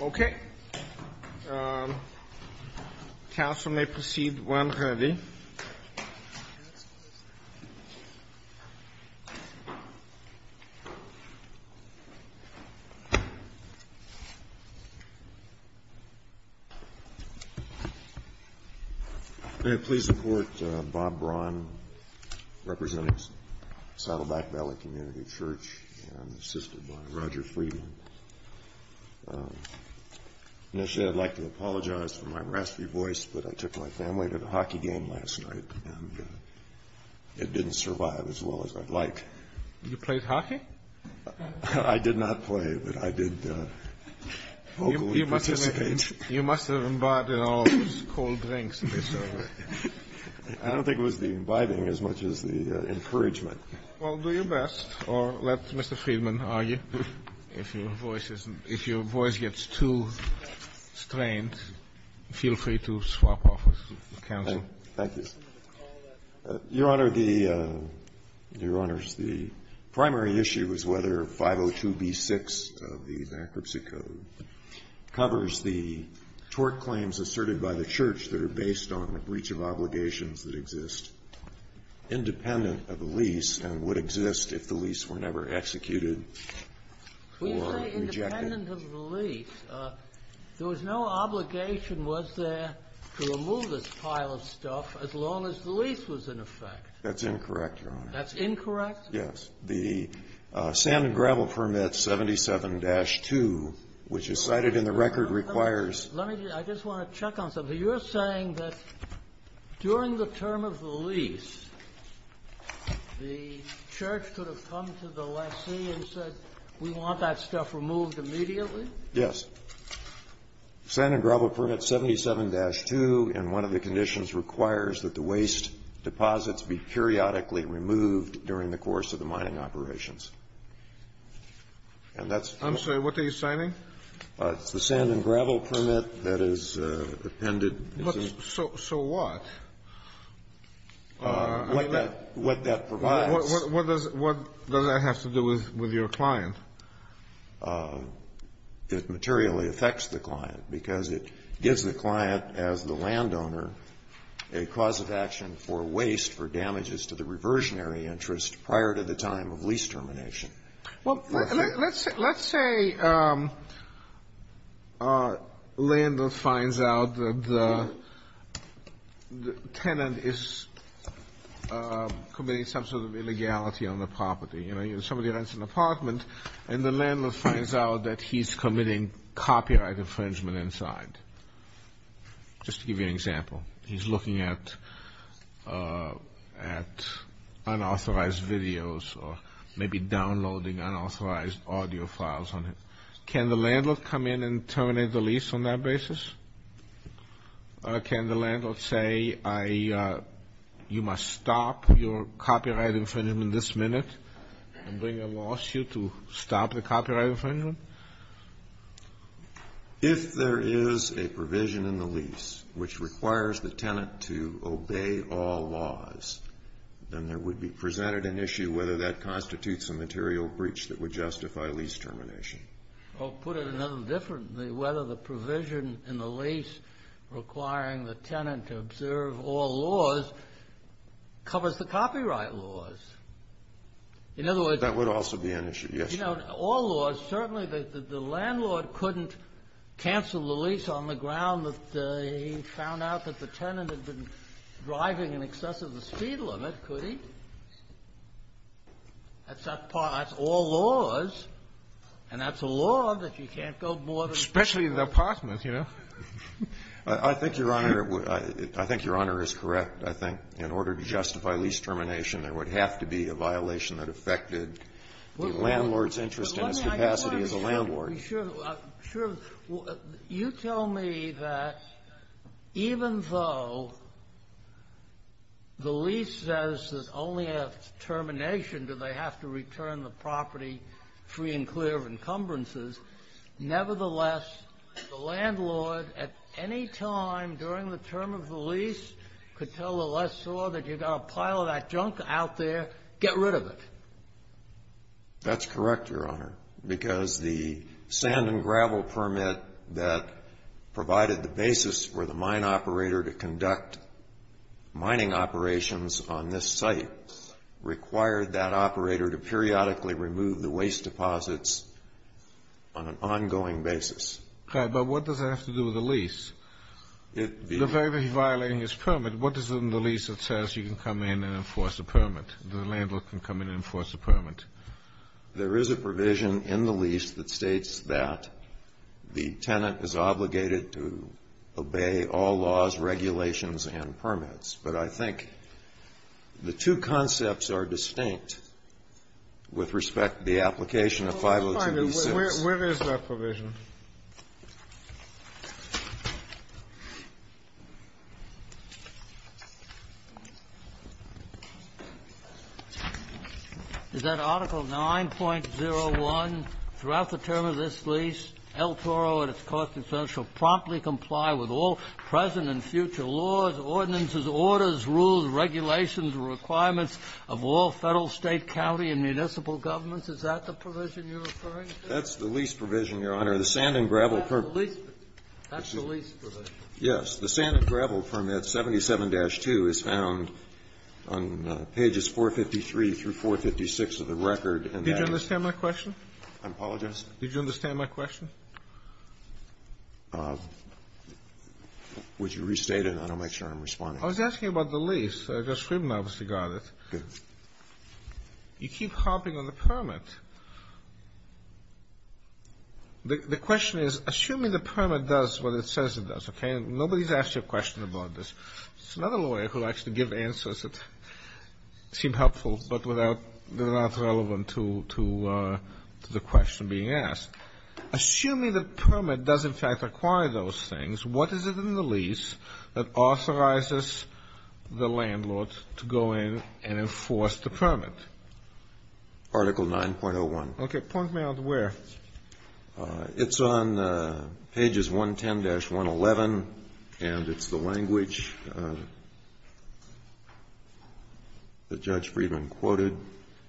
Okay. Council may proceed where I'm going to be. May I please report Bob Braun, representing Saddleback Valley Community Church, and assisted by Roger Friedman. Initially, I'd like to apologize for my raspy voice, but I took my family to the hockey game last night, and it didn't survive as well as I'd like. You played hockey? I did not play, but I did vocally participate. You must have imbibed in all those cold drinks. I don't think it was the imbibing as much as the encouragement. Well, do your best, or let Mr. Friedman argue. If your voice gets too strained, feel free to swap offers with counsel. Thank you. Your Honor, the primary issue is whether 502b6 of the bankruptcy code covers the tort claims asserted by the church that are based on a breach of obligations that exist, independent of the lease, and would exist if the lease were never executed or rejected. We say independent of the lease. There was no obligation, was there, to remove this pile of stuff as long as the lease was in effect? That's incorrect, Your Honor. That's incorrect? Yes. The salmon gravel permit 77-2, which is cited in the record, requires ---- Let me just ---- I just want to check on something. You're saying that during the term of the lease, the church could have come to the lessee and said, we want that stuff removed immediately? Yes. Salmon gravel permit 77-2 in one of the conditions requires that the waste deposits be periodically removed during the course of the mining operations. And that's ---- I'm sorry. What are you signing? It's the sand and gravel permit that is appended. So what? What that provides. What does that have to do with your client? It materially affects the client, because it gives the client, as the landowner, a cause of action for waste for damages to the reversionary interest prior to the time of lease termination. Well, let's say a landlord finds out that the tenant is committing some sort of illegality on the property. You know, somebody rents an apartment, and the landlord finds out that he's committing copyright infringement inside, just to give you an example. He's looking at unauthorized videos or maybe downloading unauthorized audio files on it. Can the landlord come in and terminate the lease on that basis? Can the landlord say, you must stop your copyright infringement this minute and bring a lawsuit to stop the copyright infringement? If there is a provision in the lease which requires the tenant to obey all laws, then there would be presented an issue whether that constitutes a material breach that would justify lease termination. Or put it another different way, whether the provision in the lease requiring the tenant to observe all laws covers the copyright laws. In other words, That would also be an issue. Yes, Your Honor. All laws. Certainly, the landlord couldn't cancel the lease on the ground that he found out that the tenant had been driving in excess of the speed limit, could he? That's all laws. And that's a law that you can't go more than one. Especially in the apartments, you know. I think, Your Honor, I think Your Honor is correct. I think in order to justify lease termination, there would have to be a violation that affected the landlord's interest in its capacity as a landlord. You tell me that even though the lease says that only at termination do they have to return the property free and clear of encumbrances, nevertheless, the landlord at any time during the term of the lease could tell the lessor that you've got a pile of that junk out there. Get rid of it. That's correct, Your Honor, because the sand and gravel permit that provided the basis for the mine operator to conduct mining operations on this site required that operator to periodically remove the waste deposits on an ongoing basis. Okay. But what does that have to do with the lease? The fact that he's violating his permit, what is in the lease that says you can come in and enforce a permit? The landlord can come in and enforce a permit. There is a provision in the lease that states that the tenant is obligated to obey all laws, regulations, and permits. But I think the two concepts are distinct with respect to the application of 502b6. Where is that provision? Is that Article 9.01? Throughout the term of this lease, El Toro and its cost incentives shall promptly comply with all present and future laws, ordinances, orders, rules, regulations, and requirements of all Federal, State, county, and municipal governments. Is that the provision you're referring to? That's the lease provision, Your Honor. The sand and gravel permit. That's the lease provision. Yes. The sand and gravel permit, 77-2, is found on pages 453 through 456 of the record. Did you understand my question? I apologize? Did you understand my question? Would you restate it? I want to make sure I'm responding. I was asking about the lease. Judge Scriven obviously got it. Okay. You keep harping on the permit. The question is, assuming the permit does what it says it does, okay, and nobody's asked you a question about this. It's another lawyer who likes to give answers that seem helpful, but they're not relevant to the question being asked. Assuming the permit does, in fact, require those things, what is it in the lease that authorizes the landlord to go in and enforce the permit? Article 9.01. Okay. Point me out where. It's on pages 110-111, and it's the language that Judge Friedman quoted,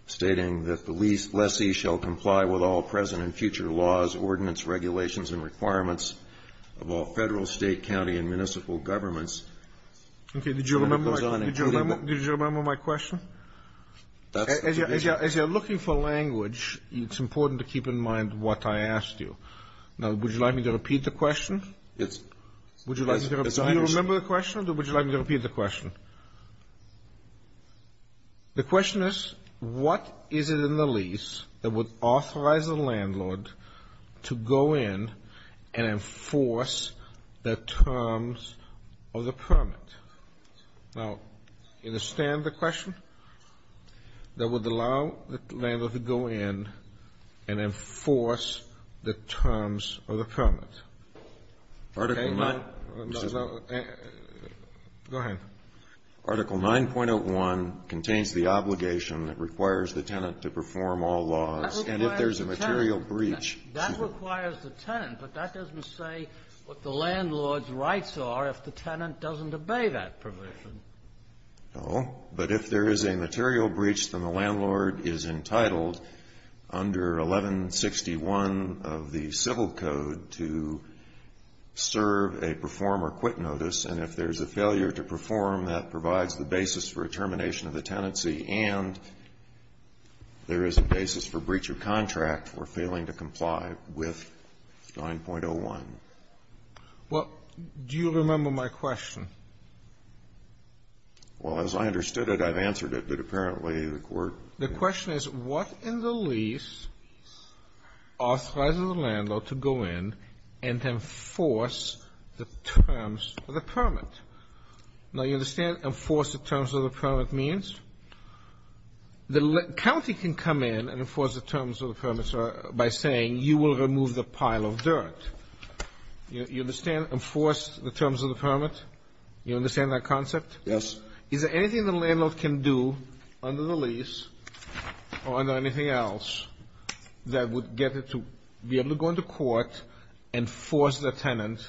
stating that the lease lessee shall comply with all present and future laws, ordinance, regulations, and requirements of all federal, state, county, and municipal governments. Okay. Did you remember my question? As you're looking for language, it's important to keep in mind what I asked you. Now, would you like me to repeat the question? Yes. Do you remember the question, or would you like me to repeat the question? The question is, what is it in the lease that would authorize the landlord to go in and enforce the terms of the permit? Now, understand the question? That would allow the landlord to go in and enforce the terms of the permit. Article 9.01. Go ahead. That requires the tenant to perform all laws. And if there's a material breach. That requires the tenant, but that doesn't say what the landlord's rights are if the tenant doesn't obey that provision. No. But if there is a material breach, then the landlord is entitled under 1161 of the Civil Code to serve a perform or quit notice. And if there's a failure to perform, that provides the basis for a termination of the tenancy, and there is a basis for breach of contract for failing to comply with 9.01. Well, do you remember my question? Well, as I understood it, I've answered it, but apparently the Court. The question is, what in the lease authorizes the landlord to go in and to enforce the terms of the permit? Now, you understand enforce the terms of the permit means? The county can come in and enforce the terms of the permit by saying you will remove the pile of dirt. You understand enforce the terms of the permit? You understand that concept? Yes. Is there anything the landlord can do under the lease or under anything else that would get it to be able to go into court and force the tenant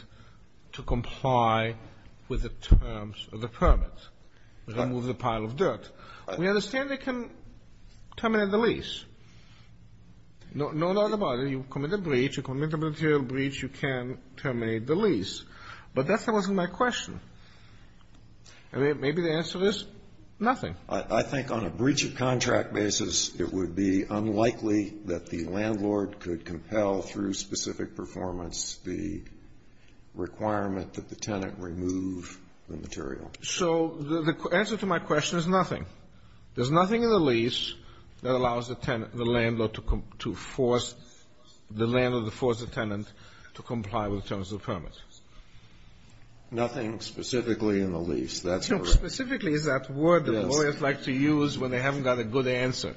to comply with the terms of the permit, remove the pile of dirt? We understand they can terminate the lease. No doubt about it. You commit a breach. You commit a material breach. You can terminate the lease. But that wasn't my question. Maybe the answer is nothing. I think on a breach of contract basis, it would be unlikely that the landlord could compel through specific performance the requirement that the tenant remove the material. So the answer to my question is nothing. There's nothing in the lease that allows the tenant, the landlord to force the landlord to force the tenant to comply with the terms of the permit. Nothing specifically in the lease. Specifically is that word that lawyers like to use when they haven't got a good answer.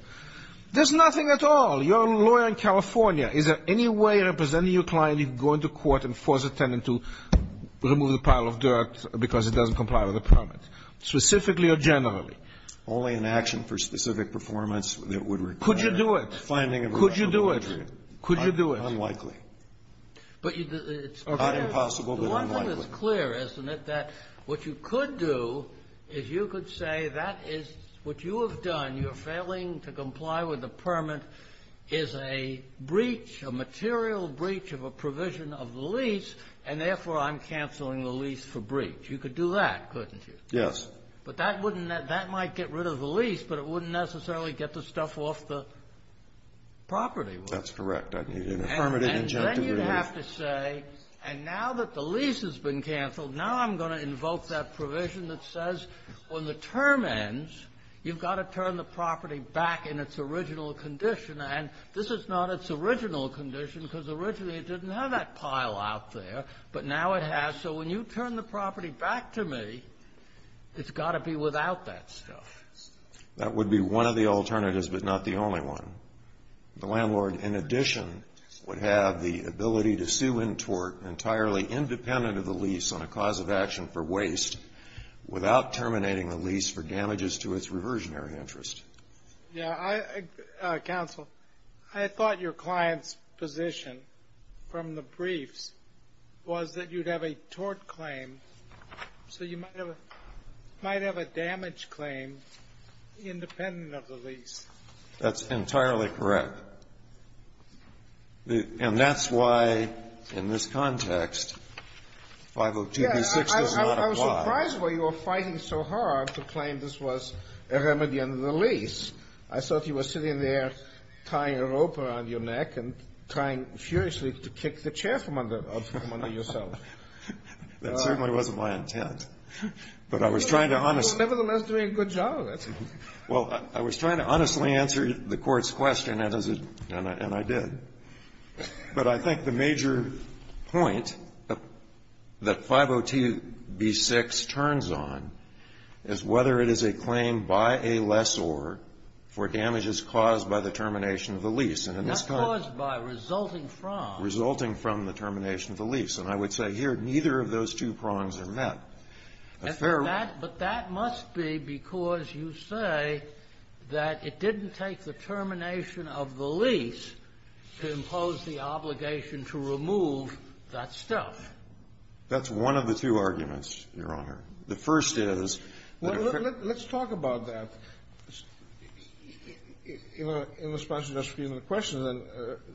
There's nothing at all. You're a lawyer in California. Is there any way representing your client you can go into court and force a tenant to remove the pile of dirt because it doesn't comply with the permit, specifically or generally? Only in action for specific performance that would require the finding of a rational perjury. Could you do it? Unlikely. Not impossible, but unlikely. It's clear, isn't it, that what you could do is you could say that is what you have done. You're failing to comply with the permit is a breach, a material breach of a provision of the lease, and therefore I'm canceling the lease for breach. You could do that, couldn't you? Yes. But that wouldn't, that might get rid of the lease, but it wouldn't necessarily get the stuff off the property. That's correct. And then you'd have to say, and now that the lease has been canceled, now I'm going to invoke that provision that says when the term ends, you've got to turn the property back in its original condition. And this is not its original condition, because originally it didn't have that pile out there, but now it has. So when you turn the property back to me, it's got to be without that stuff. That would be one of the alternatives, but not the only one. The landlord, in addition, would have the ability to sue in tort entirely independent of the lease on a cause of action for waste without terminating the lease for damages to its reversionary interest. Yeah, I, counsel, I thought your client's position from the briefs was that you'd have a tort claim, so you might have a damage claim independent of the lease. That's entirely correct. And that's why, in this context, 502B6 does not apply. Yeah, I was surprised why you were fighting so hard to claim this was a remedy under the lease. I thought you were sitting there tying a rope around your neck and trying furiously to kick the chair from under yourself. That certainly wasn't my intent. But I was trying to honestly. You were nevertheless doing a good job. Well, I was trying to honestly answer the Court's question, and I did. But I think the major point that 502B6 turns on is whether it is a claim by a lessor for damages caused by the termination of the lease. Not caused by, resulting from. Resulting from the termination of the lease. And I would say here neither of those two prongs are met. A fair one. But that must be because you say that it didn't take the termination of the lease to impose the obligation to remove that stuff. That's one of the two arguments, Your Honor. The first is that if a ---- Well, let's talk about that in response to Justice Scalia's question.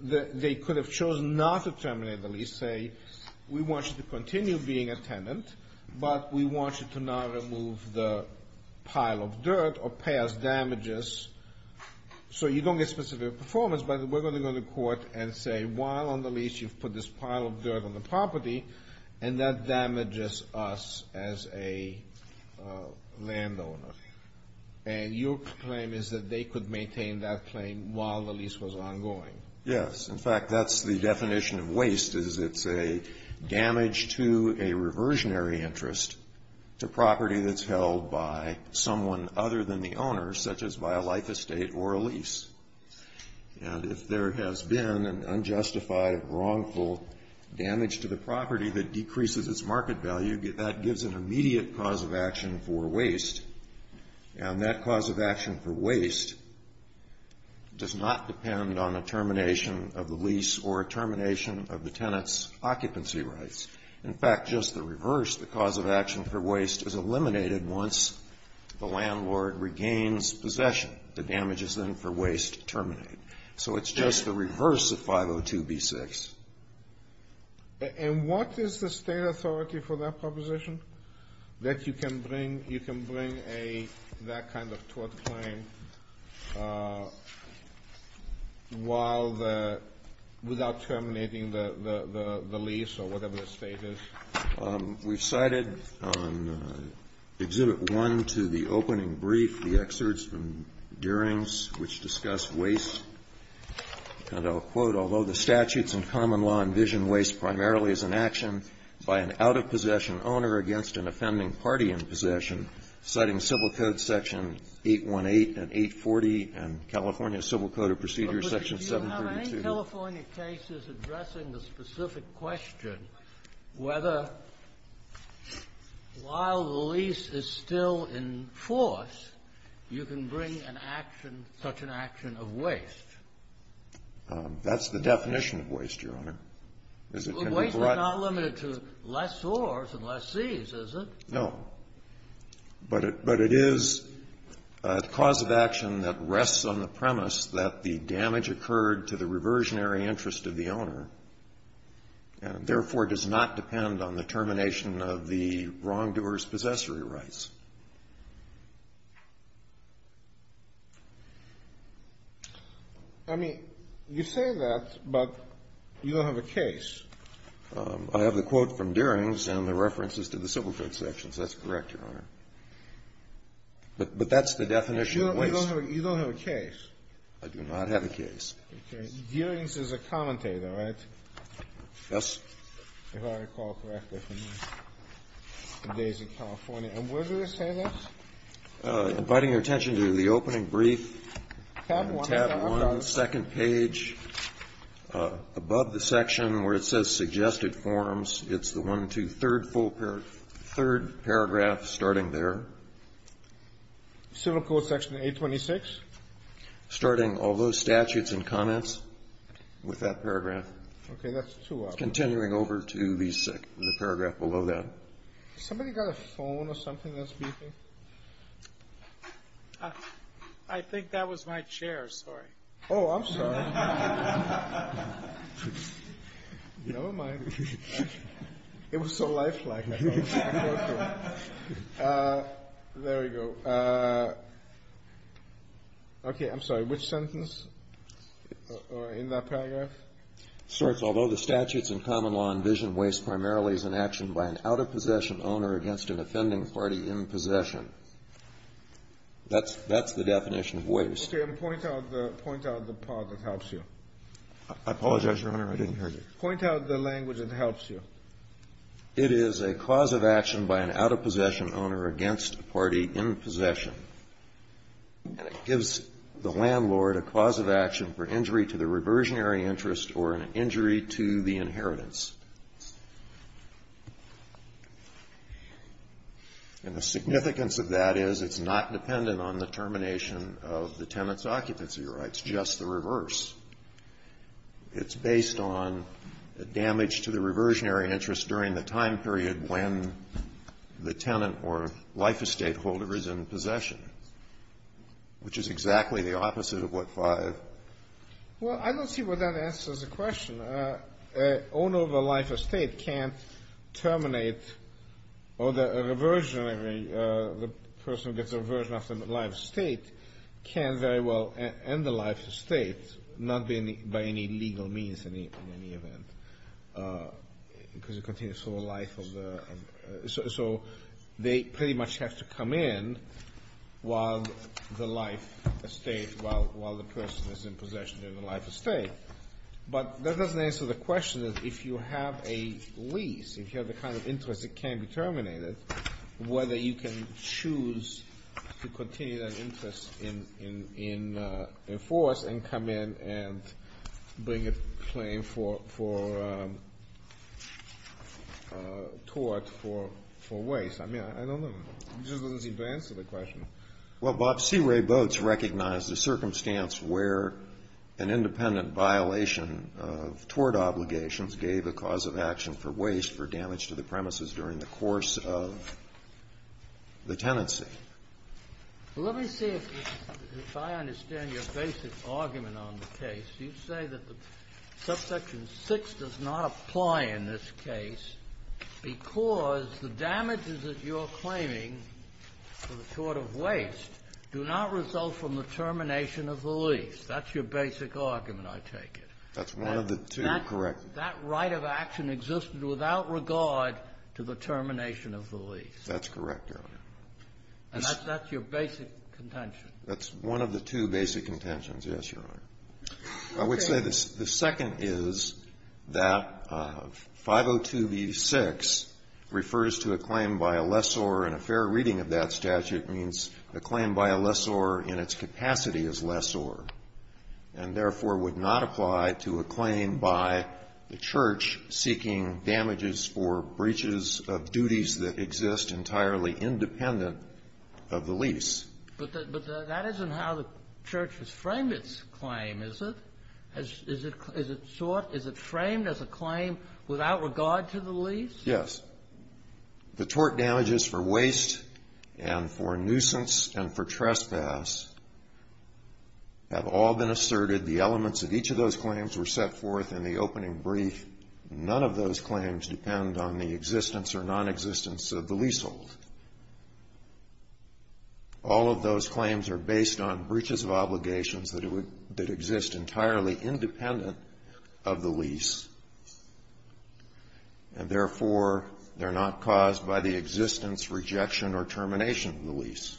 They could have chosen not to terminate the lease, say we want you to continue being a tenant, but we want you to not remove the pile of dirt or pay us damages so you don't get specific performance. But we're going to go to court and say while on the lease you've put this pile of dirt on the property, and that damages us as a landowner. And your claim is that they could maintain that claim while the lease was ongoing. Yes. In fact, that's the definition of waste is it's a damage to a reversionary interest to property that's held by someone other than the owner, such as by a life estate or a lease. And if there has been an unjustified, wrongful damage to the property that decreases its market value, that gives an immediate cause of action for waste. And that cause of action for waste does not depend on a termination of the lease or a termination of the tenant's occupancy rights. In fact, just the reverse, the cause of action for waste is eliminated once the landlord regains possession. The damages then for waste terminate. So it's just the reverse of 502b6. And what is the state authority for that proposition? That you can bring that kind of tort claim without terminating the lease or whatever the state is? We cited on Exhibit 1 to the opening brief the excerpts from Durings which discuss waste. And I'll quote. Although the statutes and common law envision waste primarily as an action by an out-of-possession owner against an offending party in possession, citing Civil Code Section 818 and 840 and California Civil Code of Procedures Section 732. But do you have any California cases addressing the specific question whether while the lease is still in force, you can bring an action, such an action of waste? That's the definition of waste, Your Honor. Waste is not limited to less ores and less seas, is it? No. But it is a cause of action that rests on the premise that the damage occurred to the reversionary interest of the owner, and therefore does not depend on the termination of the wrongdoer's possessory rights. I mean, you say that, but you don't have a case. I have the quote from Durings and the references to the Civil Code sections. That's correct, Your Honor. But that's the definition of waste. You don't have a case. I do not have a case. Okay. Durings is a commentator, right? Yes. If I recall correctly from the days of California. And where do they say that? Inviting your attention to the opening brief. Tab 1. Tab 1, second page. Above the section where it says suggested forms, it's the one, two, third full paragraph starting there. Civil Code section 826? Starting all those statutes and comments with that paragraph. Okay. Continuing over to the paragraph below that. Somebody got a phone or something that's beeping? I think that was my chair, sorry. Oh, I'm sorry. Never mind. It was so lifelike. There we go. Okay. I'm sorry. Which sentence in that paragraph? It starts, although the statutes and common law envision waste primarily as an action by an out-of-possession owner against an offending party in possession. That's the definition of waste. Okay. And point out the part that helps you. I apologize, Your Honor. I didn't hear you. Point out the language that helps you. It is a cause of action by an out-of-possession owner against a party in possession. And it gives the landlord a cause of action for injury to the reversionary interest or an injury to the inheritance. And the significance of that is it's not dependent on the termination of the tenant's occupancy rights, just the reverse. It's based on damage to the reversionary interest during the time period when the tenant or life estate holder is in possession, which is exactly the opposite of what 5. Well, I don't see where that answers the question. An owner of a life estate can't terminate or the person that's a version of the life estate can very well end the life estate, not by any legal means in any event because it continues for the life of the, so they pretty much have to come in while the life estate, while the person is in possession of the life estate. But that doesn't answer the question of if you have a lease, if you have the kind of interest that can be terminated, whether you can choose to continue that interest in force and come in and bring a claim for tort for waste. I mean, I don't know. It just doesn't seem to answer the question. Well, Bob, C. Ray Boats recognized the circumstance where an independent violation of tort obligations gave a cause of action for waste for damage to the premises during the course of the tenancy. Well, let me see if I understand your basic argument on the case. You say that the Subsection 6 does not apply in this case because the damages that you're claiming for the tort of waste do not result from the termination of the lease. That's your basic argument, I take it. That's one of the two, correct. That right of action existed without regard to the termination of the lease. That's correct, Your Honor. And that's your basic contention. That's one of the two basic contentions, yes, Your Honor. I would say the second is that 502b-6 refers to a claim by a lessor, and a fair reading of that statute means a claim by a lessor in its capacity as lessor, and therefore would not apply to a claim by the church seeking damages for breaches of duties that exist entirely independent of the lease. But that isn't how the church has framed its claim, is it? Is it framed as a claim without regard to the lease? Yes. The tort damages for waste and for nuisance and for trespass have all been asserted. The elements of each of those claims were set forth in the opening brief. None of those claims depend on the existence or nonexistence of the leasehold. All of those claims are based on breaches of obligations that exist entirely independent of the lease, and therefore they're not caused by the existence, rejection, or termination of the lease.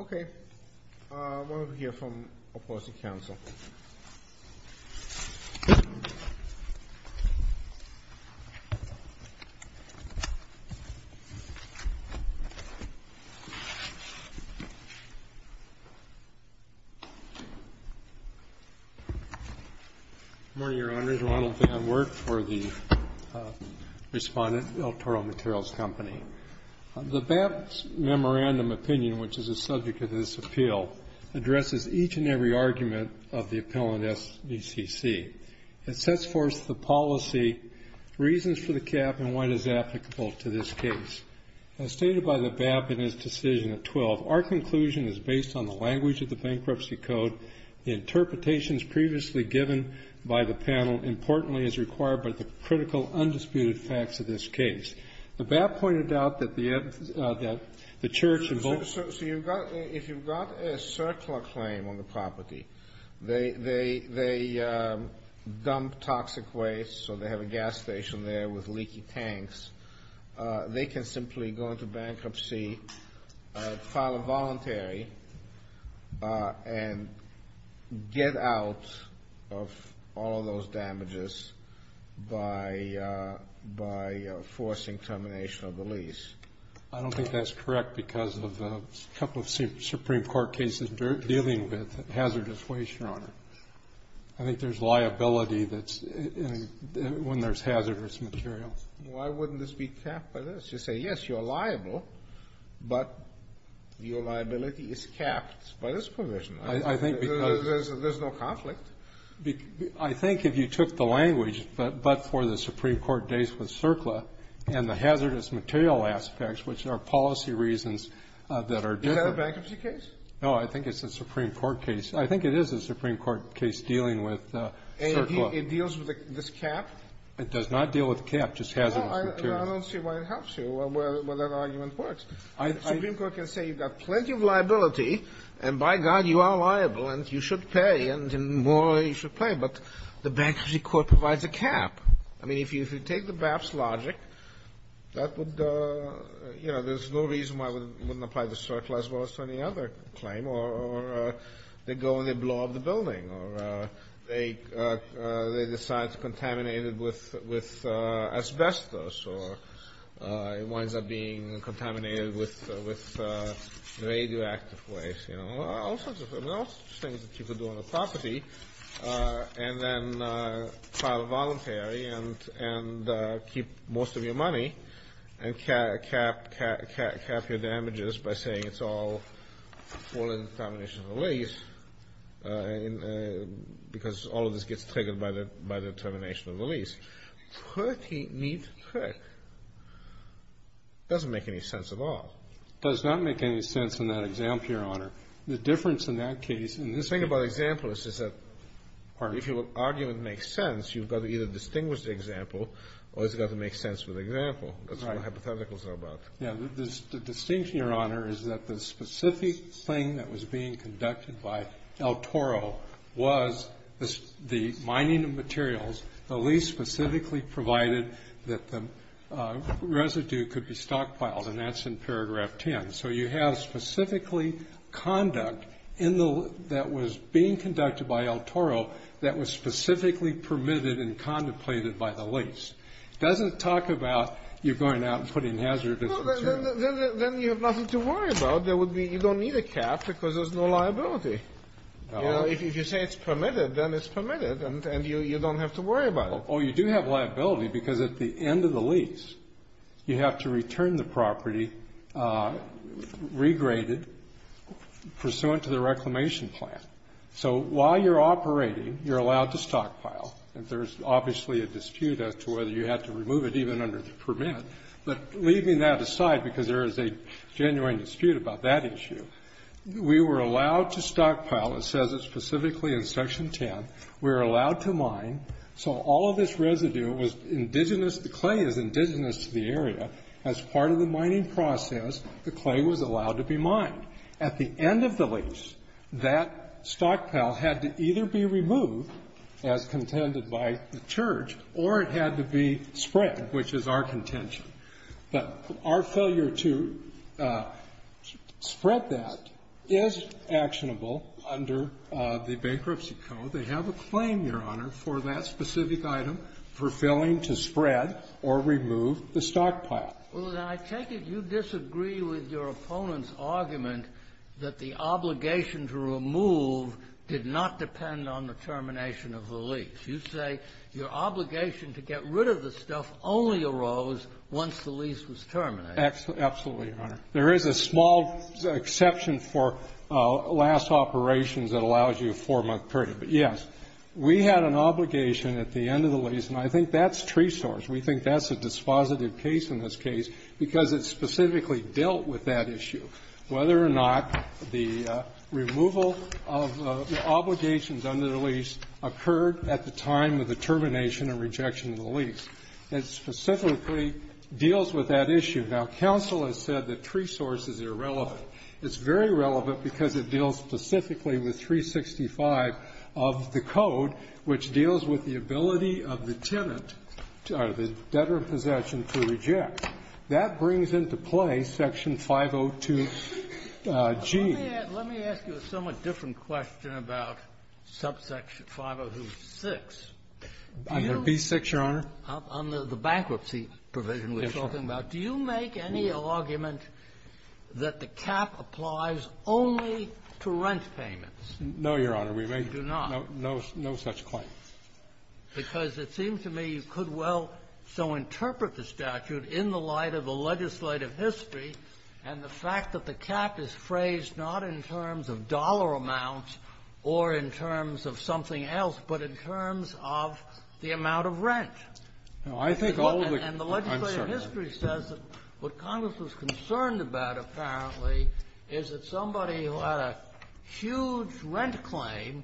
Okay. I want to hear from the opposing counsel. Good morning, Your Honors. Ronald Van Wert for the Respondent Electoral Materials Company. The BAP's memorandum opinion, which is the subject of this appeal, addresses each and every argument of the appeal in SBCC. It sets forth the policy, reasons for the cap, and what is applicable to this case. As stated by the BAP in its decision at 12, our conclusion is based on the language of the Bankruptcy Code. The interpretations previously given by the panel, importantly, is required by the critical, undisputed facts of this case. The BAP pointed out that the Church in both of those cases So if you've got a circular claim on the property, they dump toxic waste, so they have a gas station there with leaky tanks, they can simply go into bankruptcy, file a voluntary, and get out of all of those damages by forcing termination of the lease. I don't think that's correct, because of a couple of Supreme Court cases dealing with hazardous waste, Your Honor. I think there's liability when there's hazardous material. Why wouldn't this be capped by this? You say, yes, you're liable, but your liability is capped by this provision. I think because There's no conflict. I think if you took the language, but for the Supreme Court days with CERCLA and the hazardous material aspects, which are policy reasons that are different Is that a bankruptcy case? No, I think it's a Supreme Court case. I think it is a Supreme Court case dealing with CERCLA. It does not deal with the cap, just hazardous material. I don't see why it helps you, or where that argument works. The Supreme Court can say you've got plenty of liability, and by God, you are liable, and you should pay, and the more you should pay, but the bankruptcy court provides a cap. I mean, if you take the BAPS logic, that would, you know, there's no reason why it wouldn't apply to CERCLA as well as to any other claim, or they go and they blow up the building, or they decide to contaminate it with asbestos, or it winds up being contaminated with radioactive waste, you know, all sorts of things that you could do on the property, and then file a voluntary and keep most of your money, and cap your damages by saying it's all contamination of the lease, because all of this gets triggered by the termination of the lease. Pretty neat trick. It doesn't make any sense at all. It does not make any sense in that example, Your Honor. The difference in that case is that if your argument makes sense, you've got to either distinguish the example, or it's got to make sense with the example. That's what hypotheticals are about. The distinction, Your Honor, is that the specific thing that was being conducted by El Toro was the mining of materials, the lease specifically provided that the residue could be stockpiled, and that's in paragraph 10. So you have specifically conduct that was being conducted by El Toro that was specifically permitted and contemplated by the lease. It doesn't talk about you going out and putting hazardous materials. Then you have nothing to worry about. You don't need a cap because there's no liability. If you say it's permitted, then it's permitted, and you don't have to worry about it. Oh, you do have liability, because at the end of the lease, you have to return the property regraded pursuant to the reclamation plan. So while you're operating, you're allowed to stockpile. There's obviously a dispute as to whether you have to remove it even under the permit, but leaving that aside because there is a genuine dispute about that issue, we were allowed to stockpile. It says it specifically in section 10. We were allowed to mine. So all of this residue was indigenous. The clay is indigenous to the area. As part of the mining process, the clay was allowed to be mined. At the end of the lease, that stockpile had to either be removed, as contended by the church, or it had to be spread, which is our contention. But our failure to spread that is actionable under the Bankruptcy Code. They have a claim, Your Honor, for that specific item, for failing to spread or remove the stockpile. I take it you disagree with your opponent's argument that the obligation to remove did not depend on the termination of the lease. You say your obligation to get rid of the stuff only arose once the lease was terminated. Absolutely, Your Honor. There is a small exception for last operations that allows you a four-month period. But, yes, we had an obligation at the end of the lease, and I think that's tresource. We think that's a dispositive case in this case because it specifically dealt with that issue, whether or not the removal of obligations under the lease occurred at the time of the termination or rejection of the lease. It specifically deals with that issue. Now, counsel has said that tresource is irrelevant. It's very relevant because it deals specifically with 365 of the Code, which deals with the ability of the tenant, or the debtor in possession, to reject. That brings into play Section 502g. Let me ask you a somewhat different question about subsection 502.6. Under B-6, Your Honor? Under the bankruptcy provision we're talking about. Yes, Your Honor. Do you make any argument that the cap applies only to rent payments? No, Your Honor. We make no such claim. Because it seems to me you could well so interpret the statute in the light of the legislative history and the fact that the cap is phrased not in terms of dollar amounts or in terms of something else, but in terms of the amount of rent. No. I think all of the concerns of the legislative history says that what Congress was concerned about, apparently, is that somebody who had a huge rent claim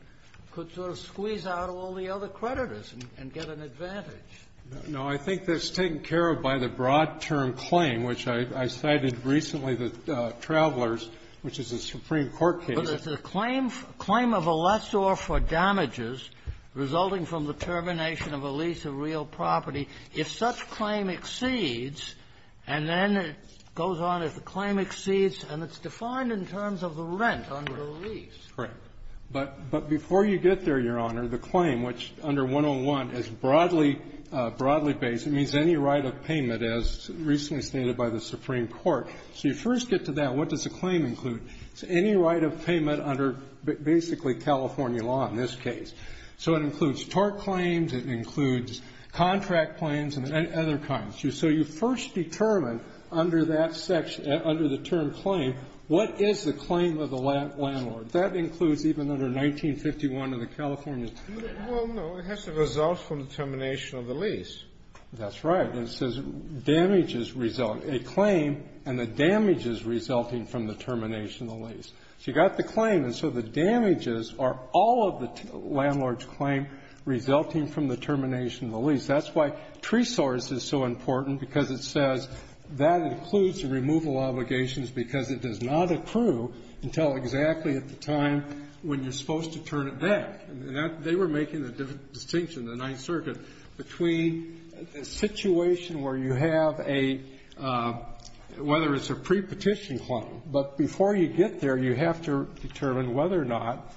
could sort of squeeze out all the other creditors and get an advantage. No. I think that's taken care of by the broad-term claim, which I cited recently that Travelers, which is a Supreme Court case. But it's a claim of a lessor for damages resulting from the termination of a lease of real property. If such claim exceeds, and then it goes on. If the claim exceeds, and it's defined in terms of the rent under the lease. Correct. But before you get there, Your Honor, the claim, which under 101 is broadly based, it means any right of payment, as recently stated by the Supreme Court. So you first get to that, what does the claim include? It's any right of payment under basically California law in this case. So it includes tort claims, it includes contract claims, and other kinds. So you first determine under that section, under the term claim, what is the claim of the landlord. That includes even under 1951 of the California. Well, no. It has to result from the termination of the lease. That's right. And it says damages result, a claim, and the damages resulting from the termination of the lease. So you got the claim. And so the damages are all of the landlord's claim resulting from the termination of the lease. That's why tree source is so important, because it says that includes the removal of all obligations because it does not accrue until exactly at the time when you're supposed to turn it back. And they were making the distinction, the Ninth Circuit, between a situation where you have a, whether it's a prepetition claim, but before you get there, you have to determine whether or not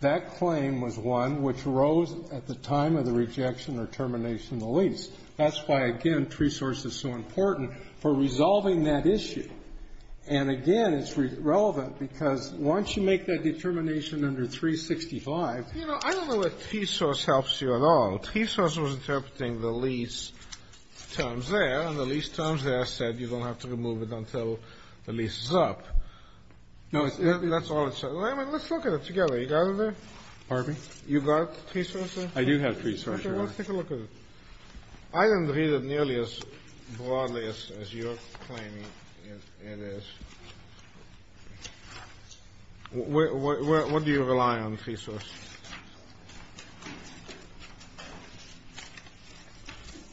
that claim was one which arose at the time of the rejection or termination of the lease. That's why, again, tree source is so important for resolving that issue. And, again, it's relevant because once you make that determination under 365 ---- You know, I don't know if tree source helps you at all. Tree source was interpreting the lease terms there, and the lease terms there said you don't have to remove it until the lease is up. No, that's all it said. Let's look at it together. You got it there? Pardon me? You got tree source there? I do have tree source, Your Honor. Okay. Let's take a look at it. I don't read it nearly as broadly as you're claiming it is. What do you rely on, tree source?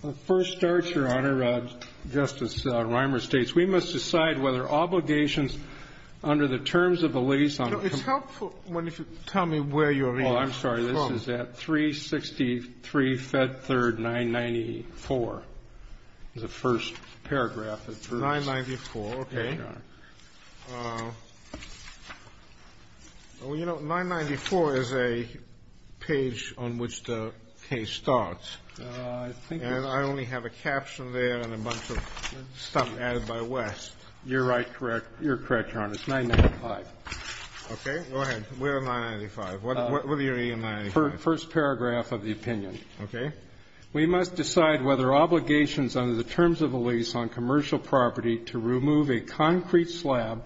Well, first starts, Your Honor, Justice Reimer states, we must decide whether obligations under the terms of the lease on the ---- It's helpful if you tell me where you're reading from. This is at 363 Fed Third 994, the first paragraph. 994, okay. Well, you know, 994 is a page on which the case starts. And I only have a caption there and a bunch of stuff added by West. You're right, correct. You're correct, Your Honor. It's 995. Okay. Go ahead. Where are 995? Where are you reading 995? First paragraph of the opinion. Okay. We must decide whether obligations under the terms of a lease on commercial property to remove a concrete slab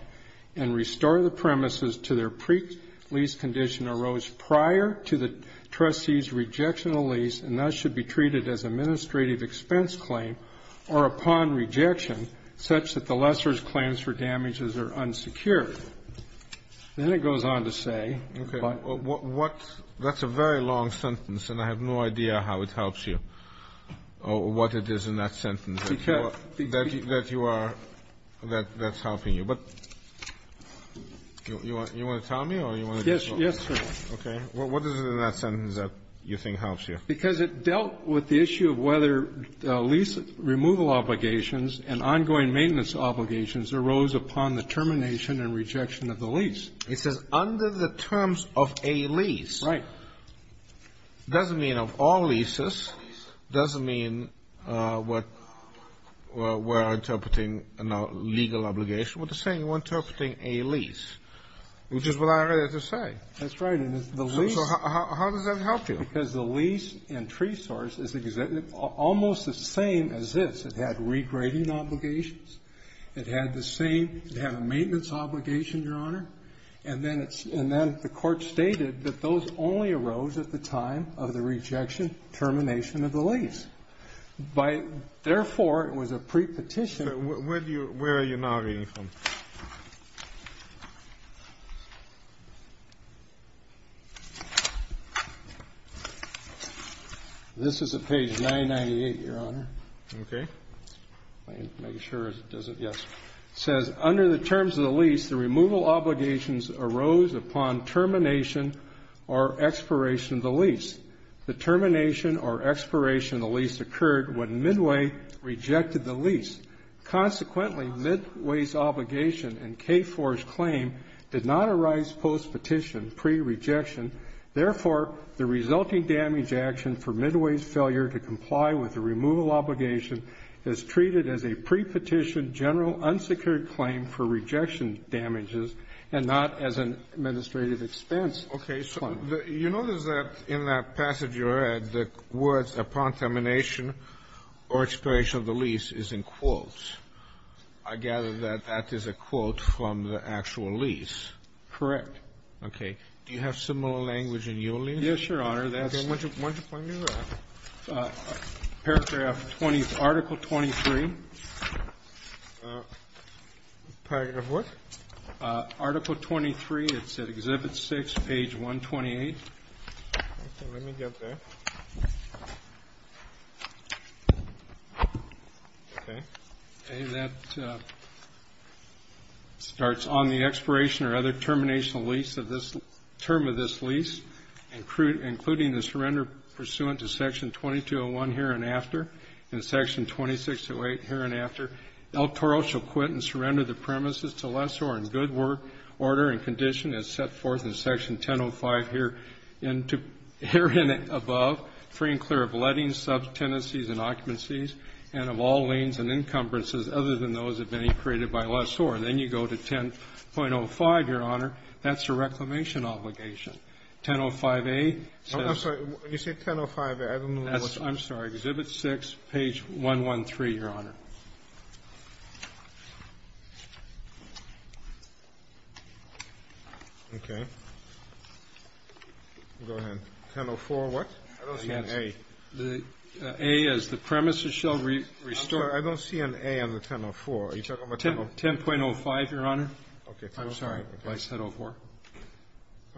and restore the premises to their pre-lease condition arose prior to the trustee's rejection of the lease and thus should be treated as administrative expense claim or upon rejection such that the lessor's claims for damages are unsecured. Then it goes on to say, but ---- Okay. What ---- that's a very long sentence, and I have no idea how it helps you or what it is in that sentence that you are ---- that's helping you. But you want to tell me or you want to just go ahead? Yes, sir. Okay. What is it in that sentence that you think helps you? Because it dealt with the issue of whether lease removal obligations and ongoing maintenance obligations arose upon the termination and rejection of the lease. It says under the terms of a lease. Right. It doesn't mean of all leases. It doesn't mean what we're interpreting in a legal obligation. What it's saying, you're interpreting a lease, which is what I read it to say. That's right. And the lease ---- So how does that help you? Because the lease and tree source is almost the same as this. It had regrading obligations. It had the same ---- it had a maintenance obligation, Your Honor. And then it's ---- and then the Court stated that those only arose at the time of the rejection, termination of the lease. By ---- therefore, it was a prepetition. Where do you ---- where are you now reading from? This is at page 998, Your Honor. Okay. Let me make sure it doesn't ---- yes. It says under the terms of the lease, the removal obligations arose upon termination or expiration of the lease. The termination or expiration of the lease occurred when Midway rejected the lease. Consequently, Midway's obligation and K-4's claim did not arise postpetition, prerejection. Therefore, the resulting damage action for Midway's failure to comply with the removal obligation is treated as a prepetition, general unsecured claim for rejection damages, and not as an administrative expense. Okay. So the ---- You notice that in that passage you read, the words upon termination or expiration of the lease is in quotes. I gather that that is a quote from the actual lease. Correct. Okay. Do you have similar language in your language? Yes, Your Honor. That's ---- Would you point me to paragraph 20 of Article 23? Part of what? Article 23, it's at Exhibit 6, page 128. Okay. Let me go back. Okay. And that starts, on the expiration or other termination of lease of this ---- term of this lease, including the surrender pursuant to Section 2201 here and after and Section 2608 here and after, El Toro shall quit and surrender the premises to Lessor in good order and condition as set forth in Section 1005 here and above, free and clear of lettings, subtenancies, and occupancies, and of all liens and encumbrances other than those that have been created by Lessor. Then you go to 10.05, Your Honor. That's a reclamation obligation. 10.05a says ---- I'm sorry. You said 10.05a. I don't know what ---- I'm sorry. Exhibit 6, page 113, Your Honor. Okay. Go ahead. 10.04 what? I don't see an A. The A is the premises shall restore ---- I don't see an A on the 10.04. Are you talking about 10.04? 10.05, Your Honor. Okay. 10.05. I'm sorry. I said 10.04.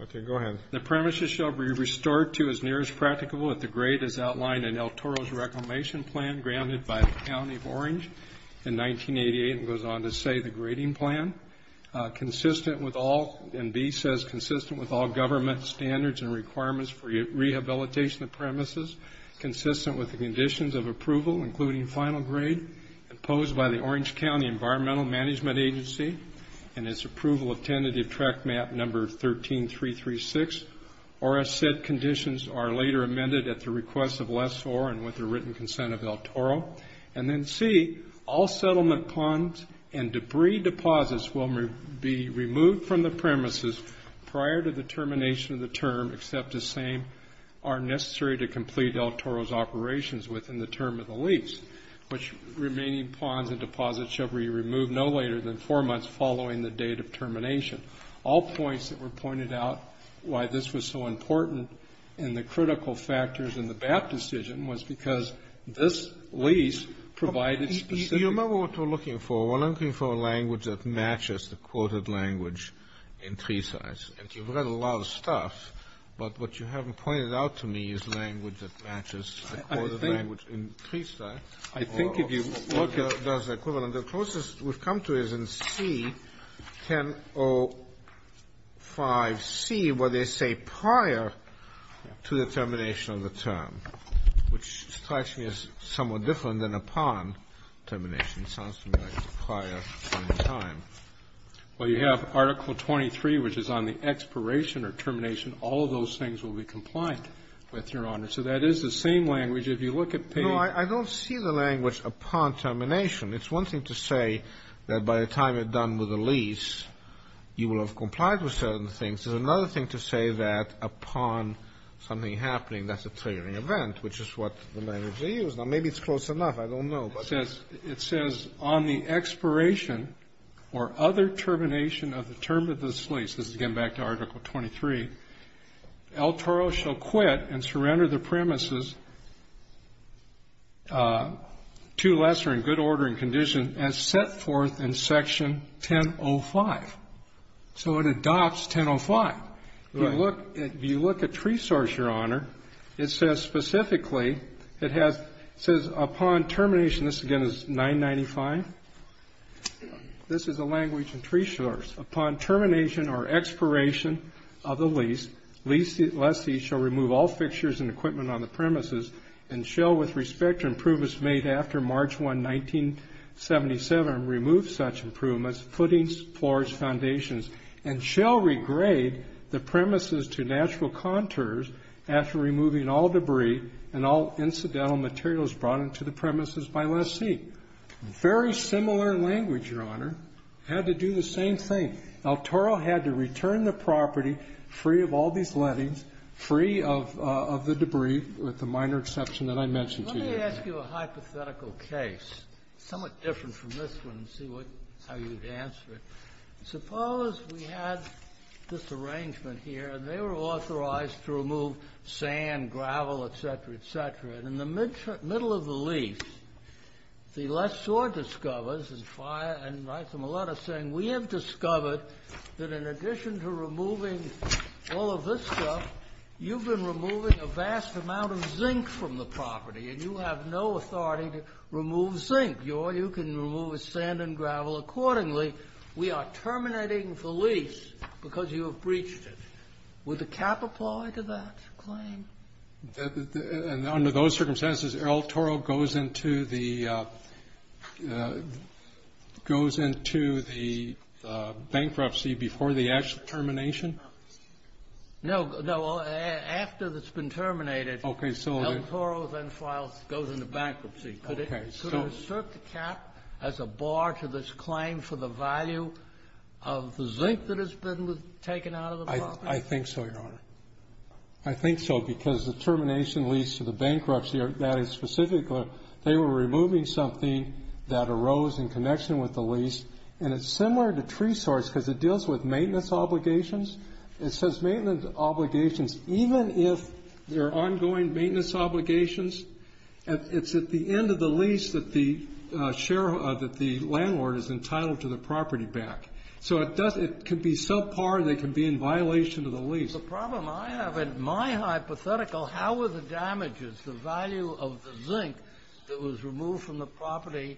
Okay. Go ahead. The premises shall be restored to as near as practicable at the grade as outlined in El Toro's reclamation plan granted by the County of Orange in 1988 and goes on to say the grading plan consistent with all, and B says consistent with all government standards and requirements for rehabilitation of premises consistent with the conditions of approval including final grade imposed by the Orange County Environmental Management Agency and its approval of tentative track map number 13336 or as said conditions are later amended at the request of less or and with the written consent of El Toro and then C, all settlement ponds and debris deposits will be removed from the premises prior to the termination of the term except the same are necessary to complete El Toro's operations within the term of the lease which remaining ponds and deposits shall be removed no later than four months following the date of termination. All points that were pointed out why this was so important and the critical factors in the BAP decision was because this lease provided specific. Do you remember what we're looking for? We're looking for a language that matches the quoted language in tree size. And you've read a lot of stuff, but what you haven't pointed out to me is language that matches the quoted language in tree size. I think if you. Look at those equivalent. The closest we've come to is in C, 1005C where they say prior to the termination of the term which strikes me as somewhat different than upon termination. It sounds to me like it's prior from the time. Well, you have Article 23 which is on the expiration or termination. All of those things will be compliant with Your Honor. So that is the same language. If you look at page. I don't see the language upon termination. It's one thing to say that by the time you're done with the lease, you will have complied with certain things. There's another thing to say that upon something happening, that's a triggering event, which is what the language they use. Now, maybe it's close enough. I don't know. It says on the expiration or other termination of the term of this lease. This is again back to Article 23. El Toro shall quit and surrender the premises to lesser and good order and condition as set forth in Section 1005. So it adopts 1005. If you look at Tree Source, Your Honor, it says specifically, it says upon termination, this again is 995. This is a language in Tree Source. Upon termination or expiration of the lease, lessee shall remove all fixtures and equipment on the premises and shall with respect to improvements made after March 1, 1977, remove such improvements, footings, floors, foundations, and shall regrade the premises to natural contours after removing all debris and all incidental materials brought into the premises by lessee. Very similar language, Your Honor, had to do the same thing. El Toro had to return the property free of all these lettings, free of the debris, with the minor exception that I mentioned to you. Let me ask you a hypothetical case, somewhat different from this one, and see how you would answer it. Suppose we had this arrangement here, and they were authorized to remove sand, and gravel, etc., etc., and in the middle of the lease, the lessor discovers and writes them a letter saying, we have discovered that in addition to removing all of this stuff, you've been removing a vast amount of zinc from the property, and you have no authority to remove zinc. You can remove the sand and gravel accordingly. We are terminating the lease because you have breached it. Would the cap apply to that claim? Under those circumstances, El Toro goes into the bankruptcy before the actual termination? No. After it's been terminated, El Toro then files goes into bankruptcy. Could it assert the cap as a bar to this claim for the value of the zinc that has been taken out of the property? I think so, Your Honor. I think so, because the termination lease to the bankruptcy, that is specific, they were removing something that arose in connection with the lease, and it's similar to tree source because it deals with maintenance obligations. It says maintenance obligations, even if they're ongoing maintenance obligations, it's at the end of the lease that the landlord is entitled to the property back. So it can be subpar, and they can be in violation of the lease. The problem I have, in my hypothetical, how are the damages, the value of the zinc that was removed from the property,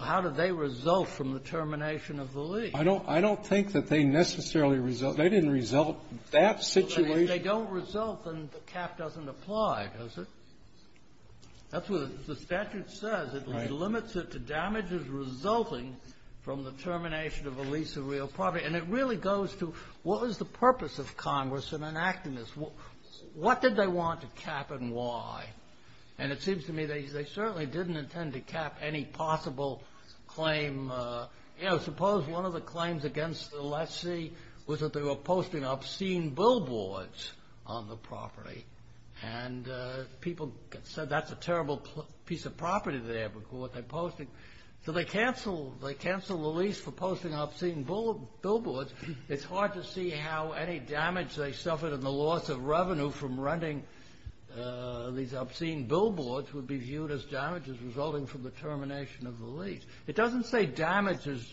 how do they result from the termination of the lease? I don't think that they necessarily result. They didn't result in that situation. If they don't result, then the cap doesn't apply, does it? That's what the statute says. Right. It limits it to damages resulting from the termination of a lease of real property, and it really goes to what was the purpose of Congress in enacting this? What did they want to cap and why? And it seems to me they certainly didn't intend to cap any possible claim. Suppose one of the claims against the lessee was that they were posting obscene billboards on the property, and people said that's a terrible piece of property they're posting. So they cancel the lease for posting obscene billboards. It's hard to see how any damage they suffered in the loss of revenue from renting these obscene billboards would be viewed as damages resulting from the termination of the lease. It doesn't say damages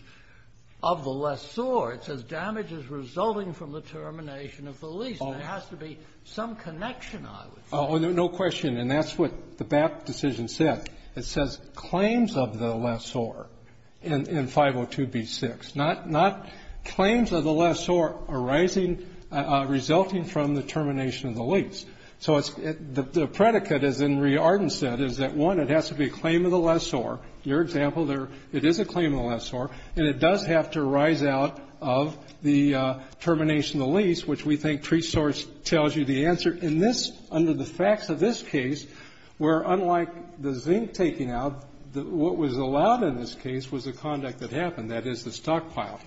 of the lessor. It says damages resulting from the termination of the lease. And there has to be some connection, I would say. Oh, no question. And that's what the BAPT decision said. It says claims of the lessor in 502b6, not claims of the lessor arising resulting from the termination of the lease. So it's the predicate, as Henri Arden said, is that, one, it has to be a claim of the lessor. In your example, it is a claim of the lessor, and it does have to arise out of the termination of the lease, which we think pre-source tells you the answer. In this, under the facts of this case, where, unlike the zinc taking out, what was allowed in this case was the conduct that happened, that is, the stockpile.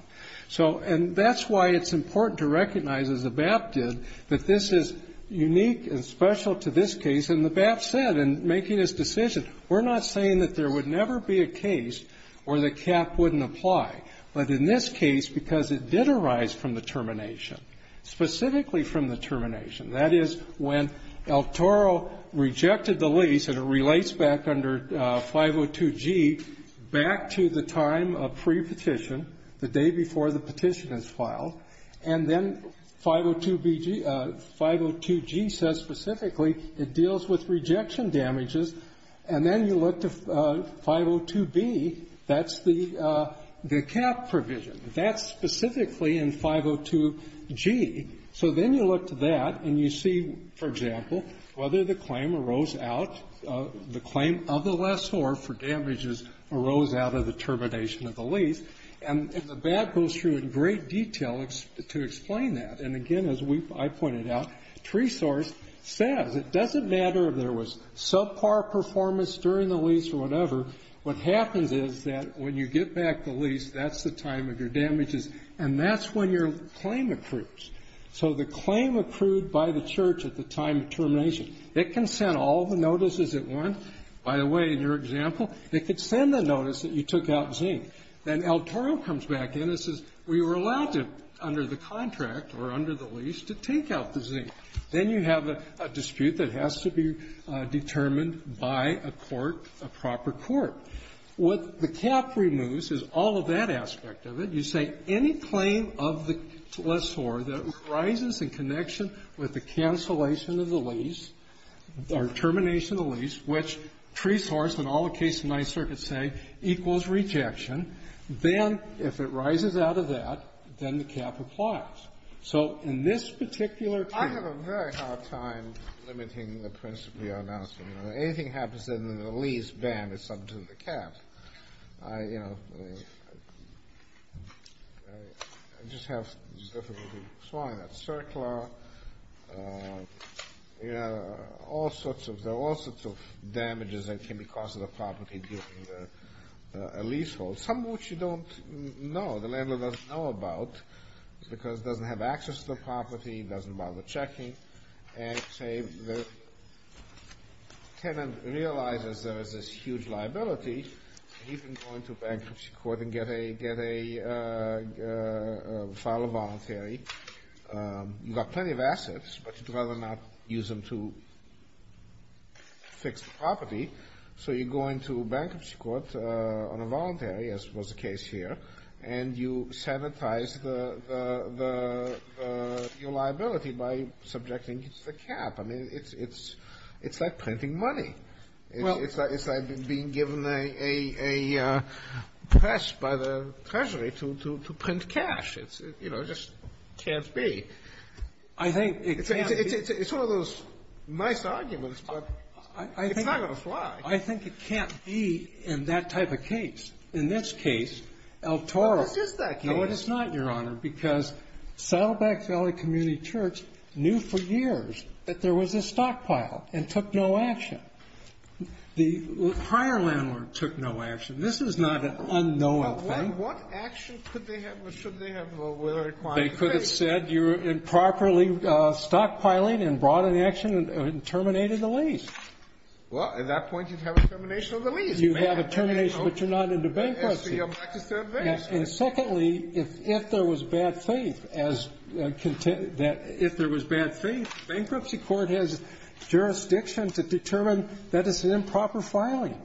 So, and that's why it's important to recognize, as the BAPT did, that this is unique and special to this case. And the BAPT said in making this decision, we're not saying that there would never be a case where the cap wouldn't apply, but in this case, because it did arise from the termination, specifically from the termination. That is, when El Toro rejected the lease, and it relates back under 502G, back to the time of pre-petition, the day before the petition is filed, and then 502BG 502G says specifically it deals with rejection damages, and then you look to 502B. That's the cap provision. That's specifically in 502G. So then you look to that, and you see, for example, whether the claim arose out, the claim of the lessor for damages arose out of the termination of the lease. And the BAPT goes through in great detail to explain that. And again, as I pointed out, TreeSource says it doesn't matter if there was subpar performance during the lease or whatever. What happens is that when you get back the lease, that's the time of your damages, and that's when your claim accrues. So the claim accrued by the church at the time of termination, it can send all the notices at once. By the way, in your example, it could send a notice that you took out zinc. Then El Toro comes back in and says, we were allowed to, under the contract or under the lease, to take out the zinc. Then you have a dispute that has to be determined by a court, a proper court. What the cap removes is all of that aspect of it. You say any claim of the lessor that rises in connection with the cancellation of the lease or termination of the lease, which TreeSource and all the cases in my circuit say equals rejection, then if it rises out of that, then the cap applies. So in this particular case the cap is removed. Kennedy. I have a very hard time limiting the principle you're announcing. Anything that happens in the lease ban is subject to the cap. I just have difficulty swallowing that. CERCLA, there are all sorts of damages that can be caused to the property due to a leasehold, some of which you don't know. The landlord doesn't know about because he doesn't have access to the property, doesn't bother checking. And say the tenant realizes there is this huge liability, he can go into bankruptcy court and get a file of voluntary. You've got plenty of assets, but you'd rather not use them to fix the property. So you go into bankruptcy court on a voluntary, as was the case here, and you sanitize your liability by subjecting it to the cap. I mean, it's like printing money. It's like being given a press by the treasury to print cash. It just can't be. I think it can't be. It's one of those nice arguments, but it's not going to fly. I think it can't be in that type of case. In this case, El Toro. No, it's not, Your Honor, because Saddleback Valley Community Church knew for years that there was a stockpile and took no action. The prior landlord took no action. This is not an unknowing thing. What action could they have or should they have or were required to take? They could have said you're improperly stockpiling and brought an action and terminated the lease. Well, at that point, you'd have a termination of the lease. You'd have a termination, but you're not into bankruptcy. And secondly, if there was bad faith, bankruptcy court has jurisdiction to determine that it's an improper filing.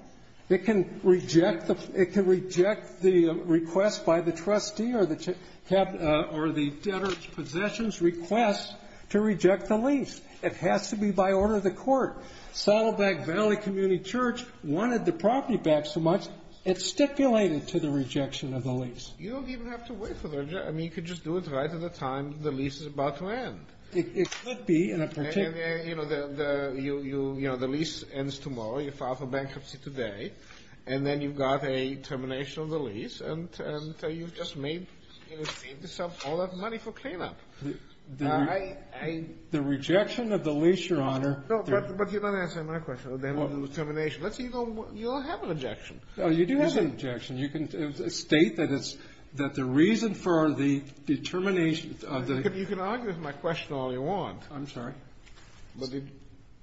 It can reject the request by the trustee or the debtor's possessions request to reject the lease. It has to be by order of the court. Saddleback Valley Community Church wanted the property back so much, it stipulated to the rejection of the lease. You don't even have to wait for the rejection. I mean, you could just do it right at the time the lease is about to end. It could be in a particular... You know, the lease ends tomorrow, you file for bankruptcy today, and then you've got a termination of the lease, and you've just made yourself all that money for cleanup. The rejection of the lease, Your Honor... No, but you don't answer my question, the termination. Let's say you don't have a rejection. Oh, you do have a rejection. You can state that the reason for the termination of the... You can argue with my question all you want. I'm sorry. But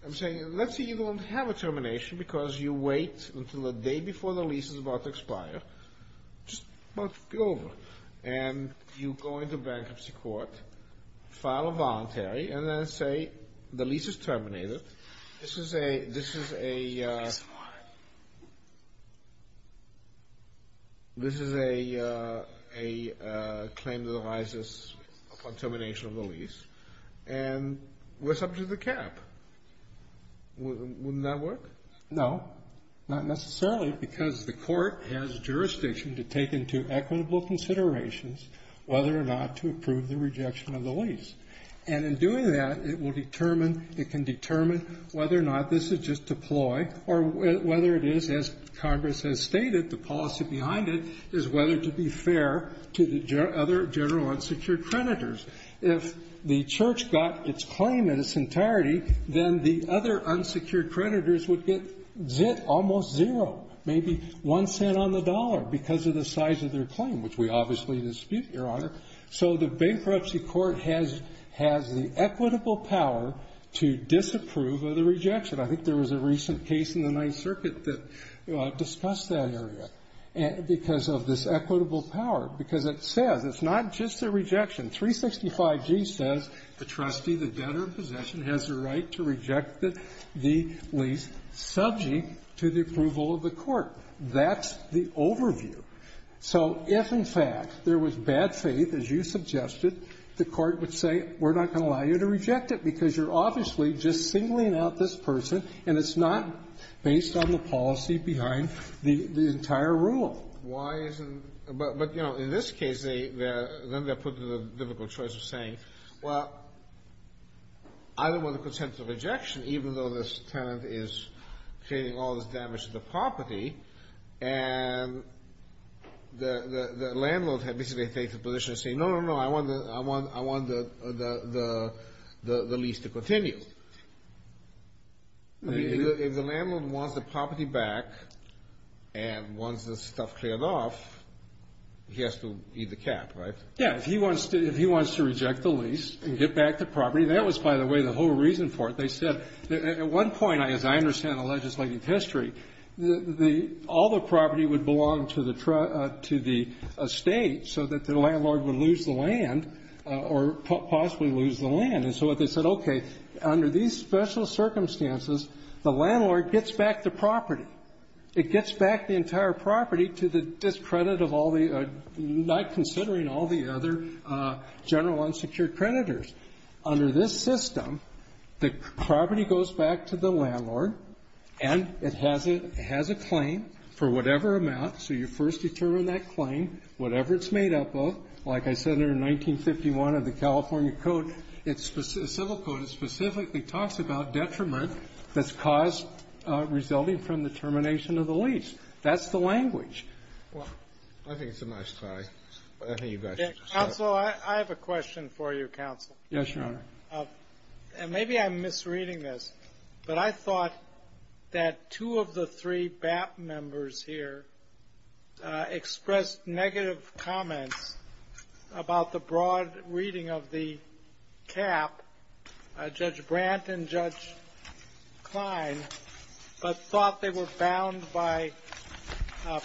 I'm saying, let's say you don't have a termination because you wait until the day before the lease is about to expire, just about to be over, and you go into bankruptcy court, file a voluntary, and then say the lease is terminated. This is a claim that arises upon termination of the lease, and we're subject to the cap. Wouldn't that work? No. Not necessarily, because the court has jurisdiction to take into equitable considerations whether or not to approve the rejection of the lease. And in doing that, it can determine whether or not this is just a ploy, or whether it is, as Congress has stated, the policy behind it is whether to be fair to the other general unsecured creditors. If the church got its claim in its entirety, then the other unsecured creditors would get almost zero, maybe one cent on the dollar because of the size of their claim, which we obviously dispute, Your Honor. So the bankruptcy court has the equitable power to disapprove of the rejection. I think there was a recent case in the Ninth Circuit that discussed that area, because of this equitable power, because it says it's not just a rejection. 365G says the trustee, the debtor in possession, has the right to reject the lease subject to the approval of the court. That's the overview. So if, in fact, there was bad faith, as you suggested, the court would say, we're not going to allow you to reject it, because you're obviously just singling out this person, and it's not based on the policy behind the entire rule. Kennedy. Why isn't the ---- but, you know, in this case, they're going to put it in a difficult choice of saying, well, I don't want to consent to the rejection, even though this tenant is creating all this damage to the property. And the landlord had basically taken the position of saying, no, no, no, I want the lease to continue. I mean, if the landlord wants the property back, and wants the stuff cleared off, he has to eat the cap, right? Yeah. If he wants to reject the lease and get back the property, that was, by the way, the whole reason for it. They said, at one point, as I understand the legislative history, the ---- all the property would belong to the estate, so that the landlord would lose the land, or possibly lose the land. And so they said, okay, under these special circumstances, the landlord gets back the property. It gets back the entire property to the discredit of all the ---- not considering all the other general unsecured creditors. Under this system, the property goes back to the landlord, and it has a claim for whatever amount. So you first determine that claim, whatever it's made up of. Like I said in 1951 of the California Code, it's a civil code, it specifically talks about detriment that's caused resulting from the termination of the lease. That's the language. Well, I think it's a nice tie. I think you got it. Counsel, I have a question for you, counsel. Yes, Your Honor. And maybe I'm misreading this, but I thought that two of the three BAPT members here expressed negative comments about the broad reading of the cap, Judge Brandt and Judge Klein, but thought they were bound by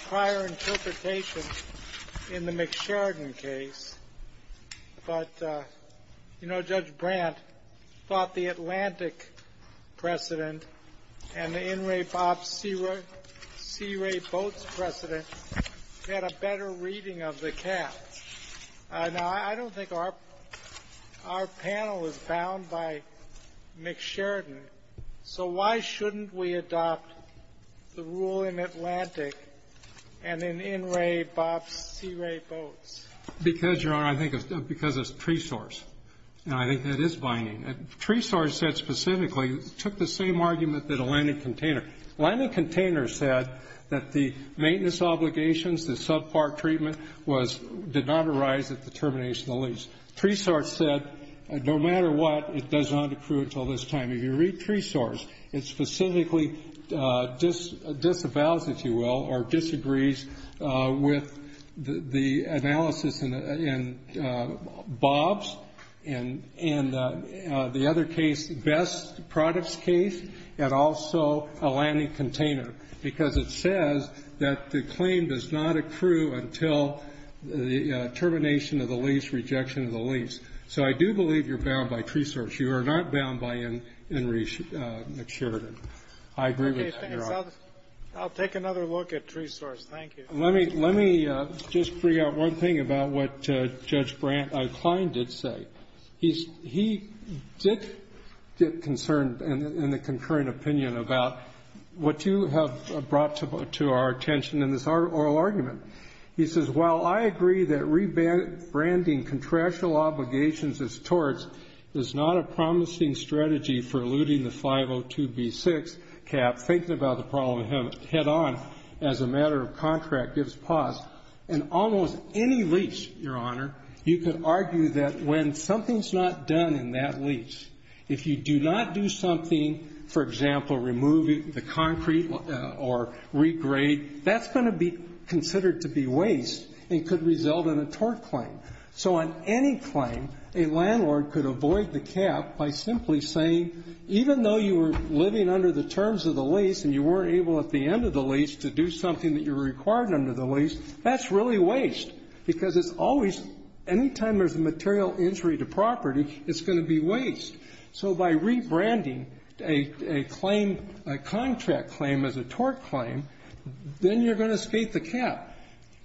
prior interpretation in the McSheridan case. But, you know, Judge Brandt thought the Atlantic precedent and the In re BAPT Sea Ray Boats precedent had a better reading of the cap. Now, I don't think our panel is bound by McSheridan. So why shouldn't we adopt the rule in Atlantic and in In re BAPT Sea Ray Boats? Because, Your Honor, I think it's because it's tree source. And I think that is binding. Tree source said specifically, took the same argument that Atlantic container. Atlantic container said that the maintenance obligations, the subpart treatment did not arise at the termination of the lease. Tree source said no matter what, it does not approve until this time. If you read tree source, it specifically disavows, if you will, or disagrees with the analysis in Bob's and the other case, Best Products case, and also Atlantic container, because it says that the claim does not accrue until the termination of the lease, rejection of the lease. So I do believe you're bound by tree source. You are not bound by In re McSheridan. I agree with Your Honor. I'll take another look at tree source. Thank you. Let me just bring out one thing about what Judge Brent O'Klein did say. He did get concerned in the concurrent opinion about what you have brought to our attention in this oral argument. He says, while I agree that rebranding contractual obligations as torts is not a problem head on as a matter of contract gives pause, in almost any lease, Your Honor, you could argue that when something's not done in that lease, if you do not do something, for example, removing the concrete or regrade, that's going to be considered to be waste and could result in a tort claim. So on any claim, a landlord could avoid the cap by simply saying, even though you were living under the terms of the lease and you weren't able at the end of the lease to do something that you were required under the lease, that's really waste. Because it's always, any time there's a material injury to property, it's going to be waste. So by rebranding a contract claim as a tort claim, then you're going to escape the cap.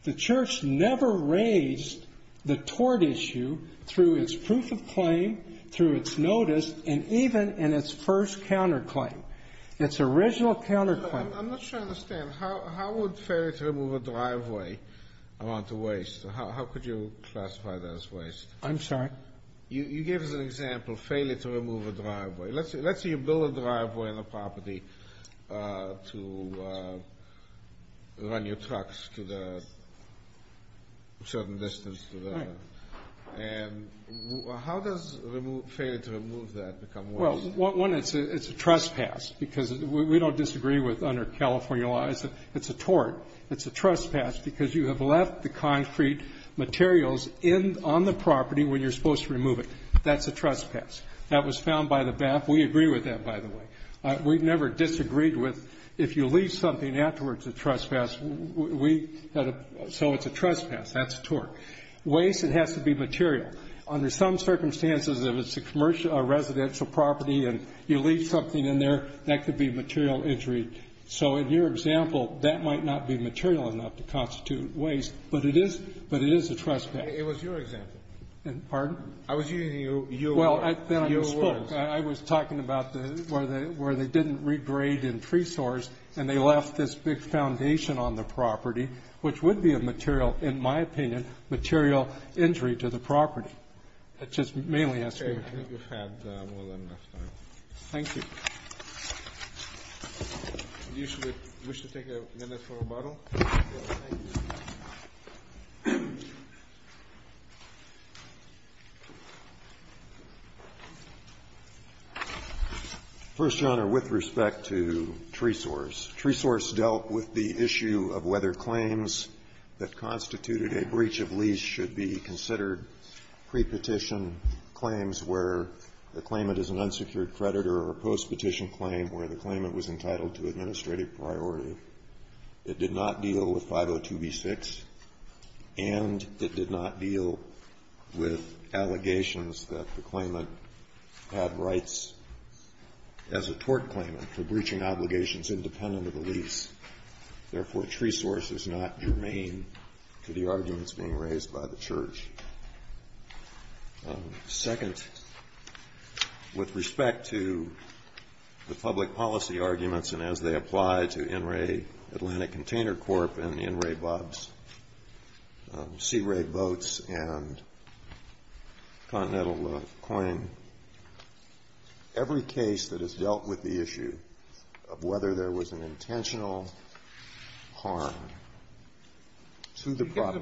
The church never raised the tort issue through its proof of claim, through its notice, and even in its first counterclaim, its original counterclaim. I'm not sure I understand. How would failure to remove a driveway amount to waste? How could you classify that as waste? I'm sorry? You gave us an example, failure to remove a driveway. Let's say you build a driveway on a property to run your trucks to the certain distance to the road. How does failure to remove that become waste? Well, one, it's a trespass, because we don't disagree with under California law, it's a tort. It's a trespass because you have left the concrete materials on the property when you're supposed to remove it. That's a trespass. That was found by the BAP. We agree with that, by the way. We've never disagreed with, if you leave something afterwards a trespass, so it's a trespass. That's a tort. Waste, it has to be material. Under some circumstances, if it's a residential property and you leave something in there, that could be material injury. So in your example, that might not be material enough to constitute waste, but it is a trespass. It was your example. Pardon? I was using your words. Well, then I spoke. I was talking about where they didn't regrade and presource, and they left this big foundation on the property, which would be a material, in my opinion, material injury to the property. That's just mainly asking for trouble. Okay. I think we've had more than enough time. Thank you. Do you wish to take a minute for rebuttal? Yes, thank you. First, Your Honor, with respect to tresource, tresource dealt with the issue of whether claims that constituted a breach of lease should be considered pre-petition claims where the claimant is an unsecured creditor or post-petition claim where the claimant was entitled to administrative priority. It did not deal with 502b6, and it did not deal with allegations that the claimant had rights as a tort claimant for breaching obligations independent of the lease. Therefore, tresource is not germane to the arguments being raised by the Church. Second, with respect to the public policy arguments and as they apply to NRA Atlantic Container Corp. and the NRA BOBS, CRA Boats, and Continental Claim, every case that has dealt with the issue of whether there was an intentional or intentional breach of lease should be considered pre-petition claims where the claimant is an unsecured creditor or post-petition claim where the claimant was entitled to administrative priority. And third, with respect to the legal harm to the property. The time is up. Do you have something to say? No. I've made my point. With respect to tresource, Your Honor. Can we talk for a minute, just to get the idea out? We'll take a recess, short recess.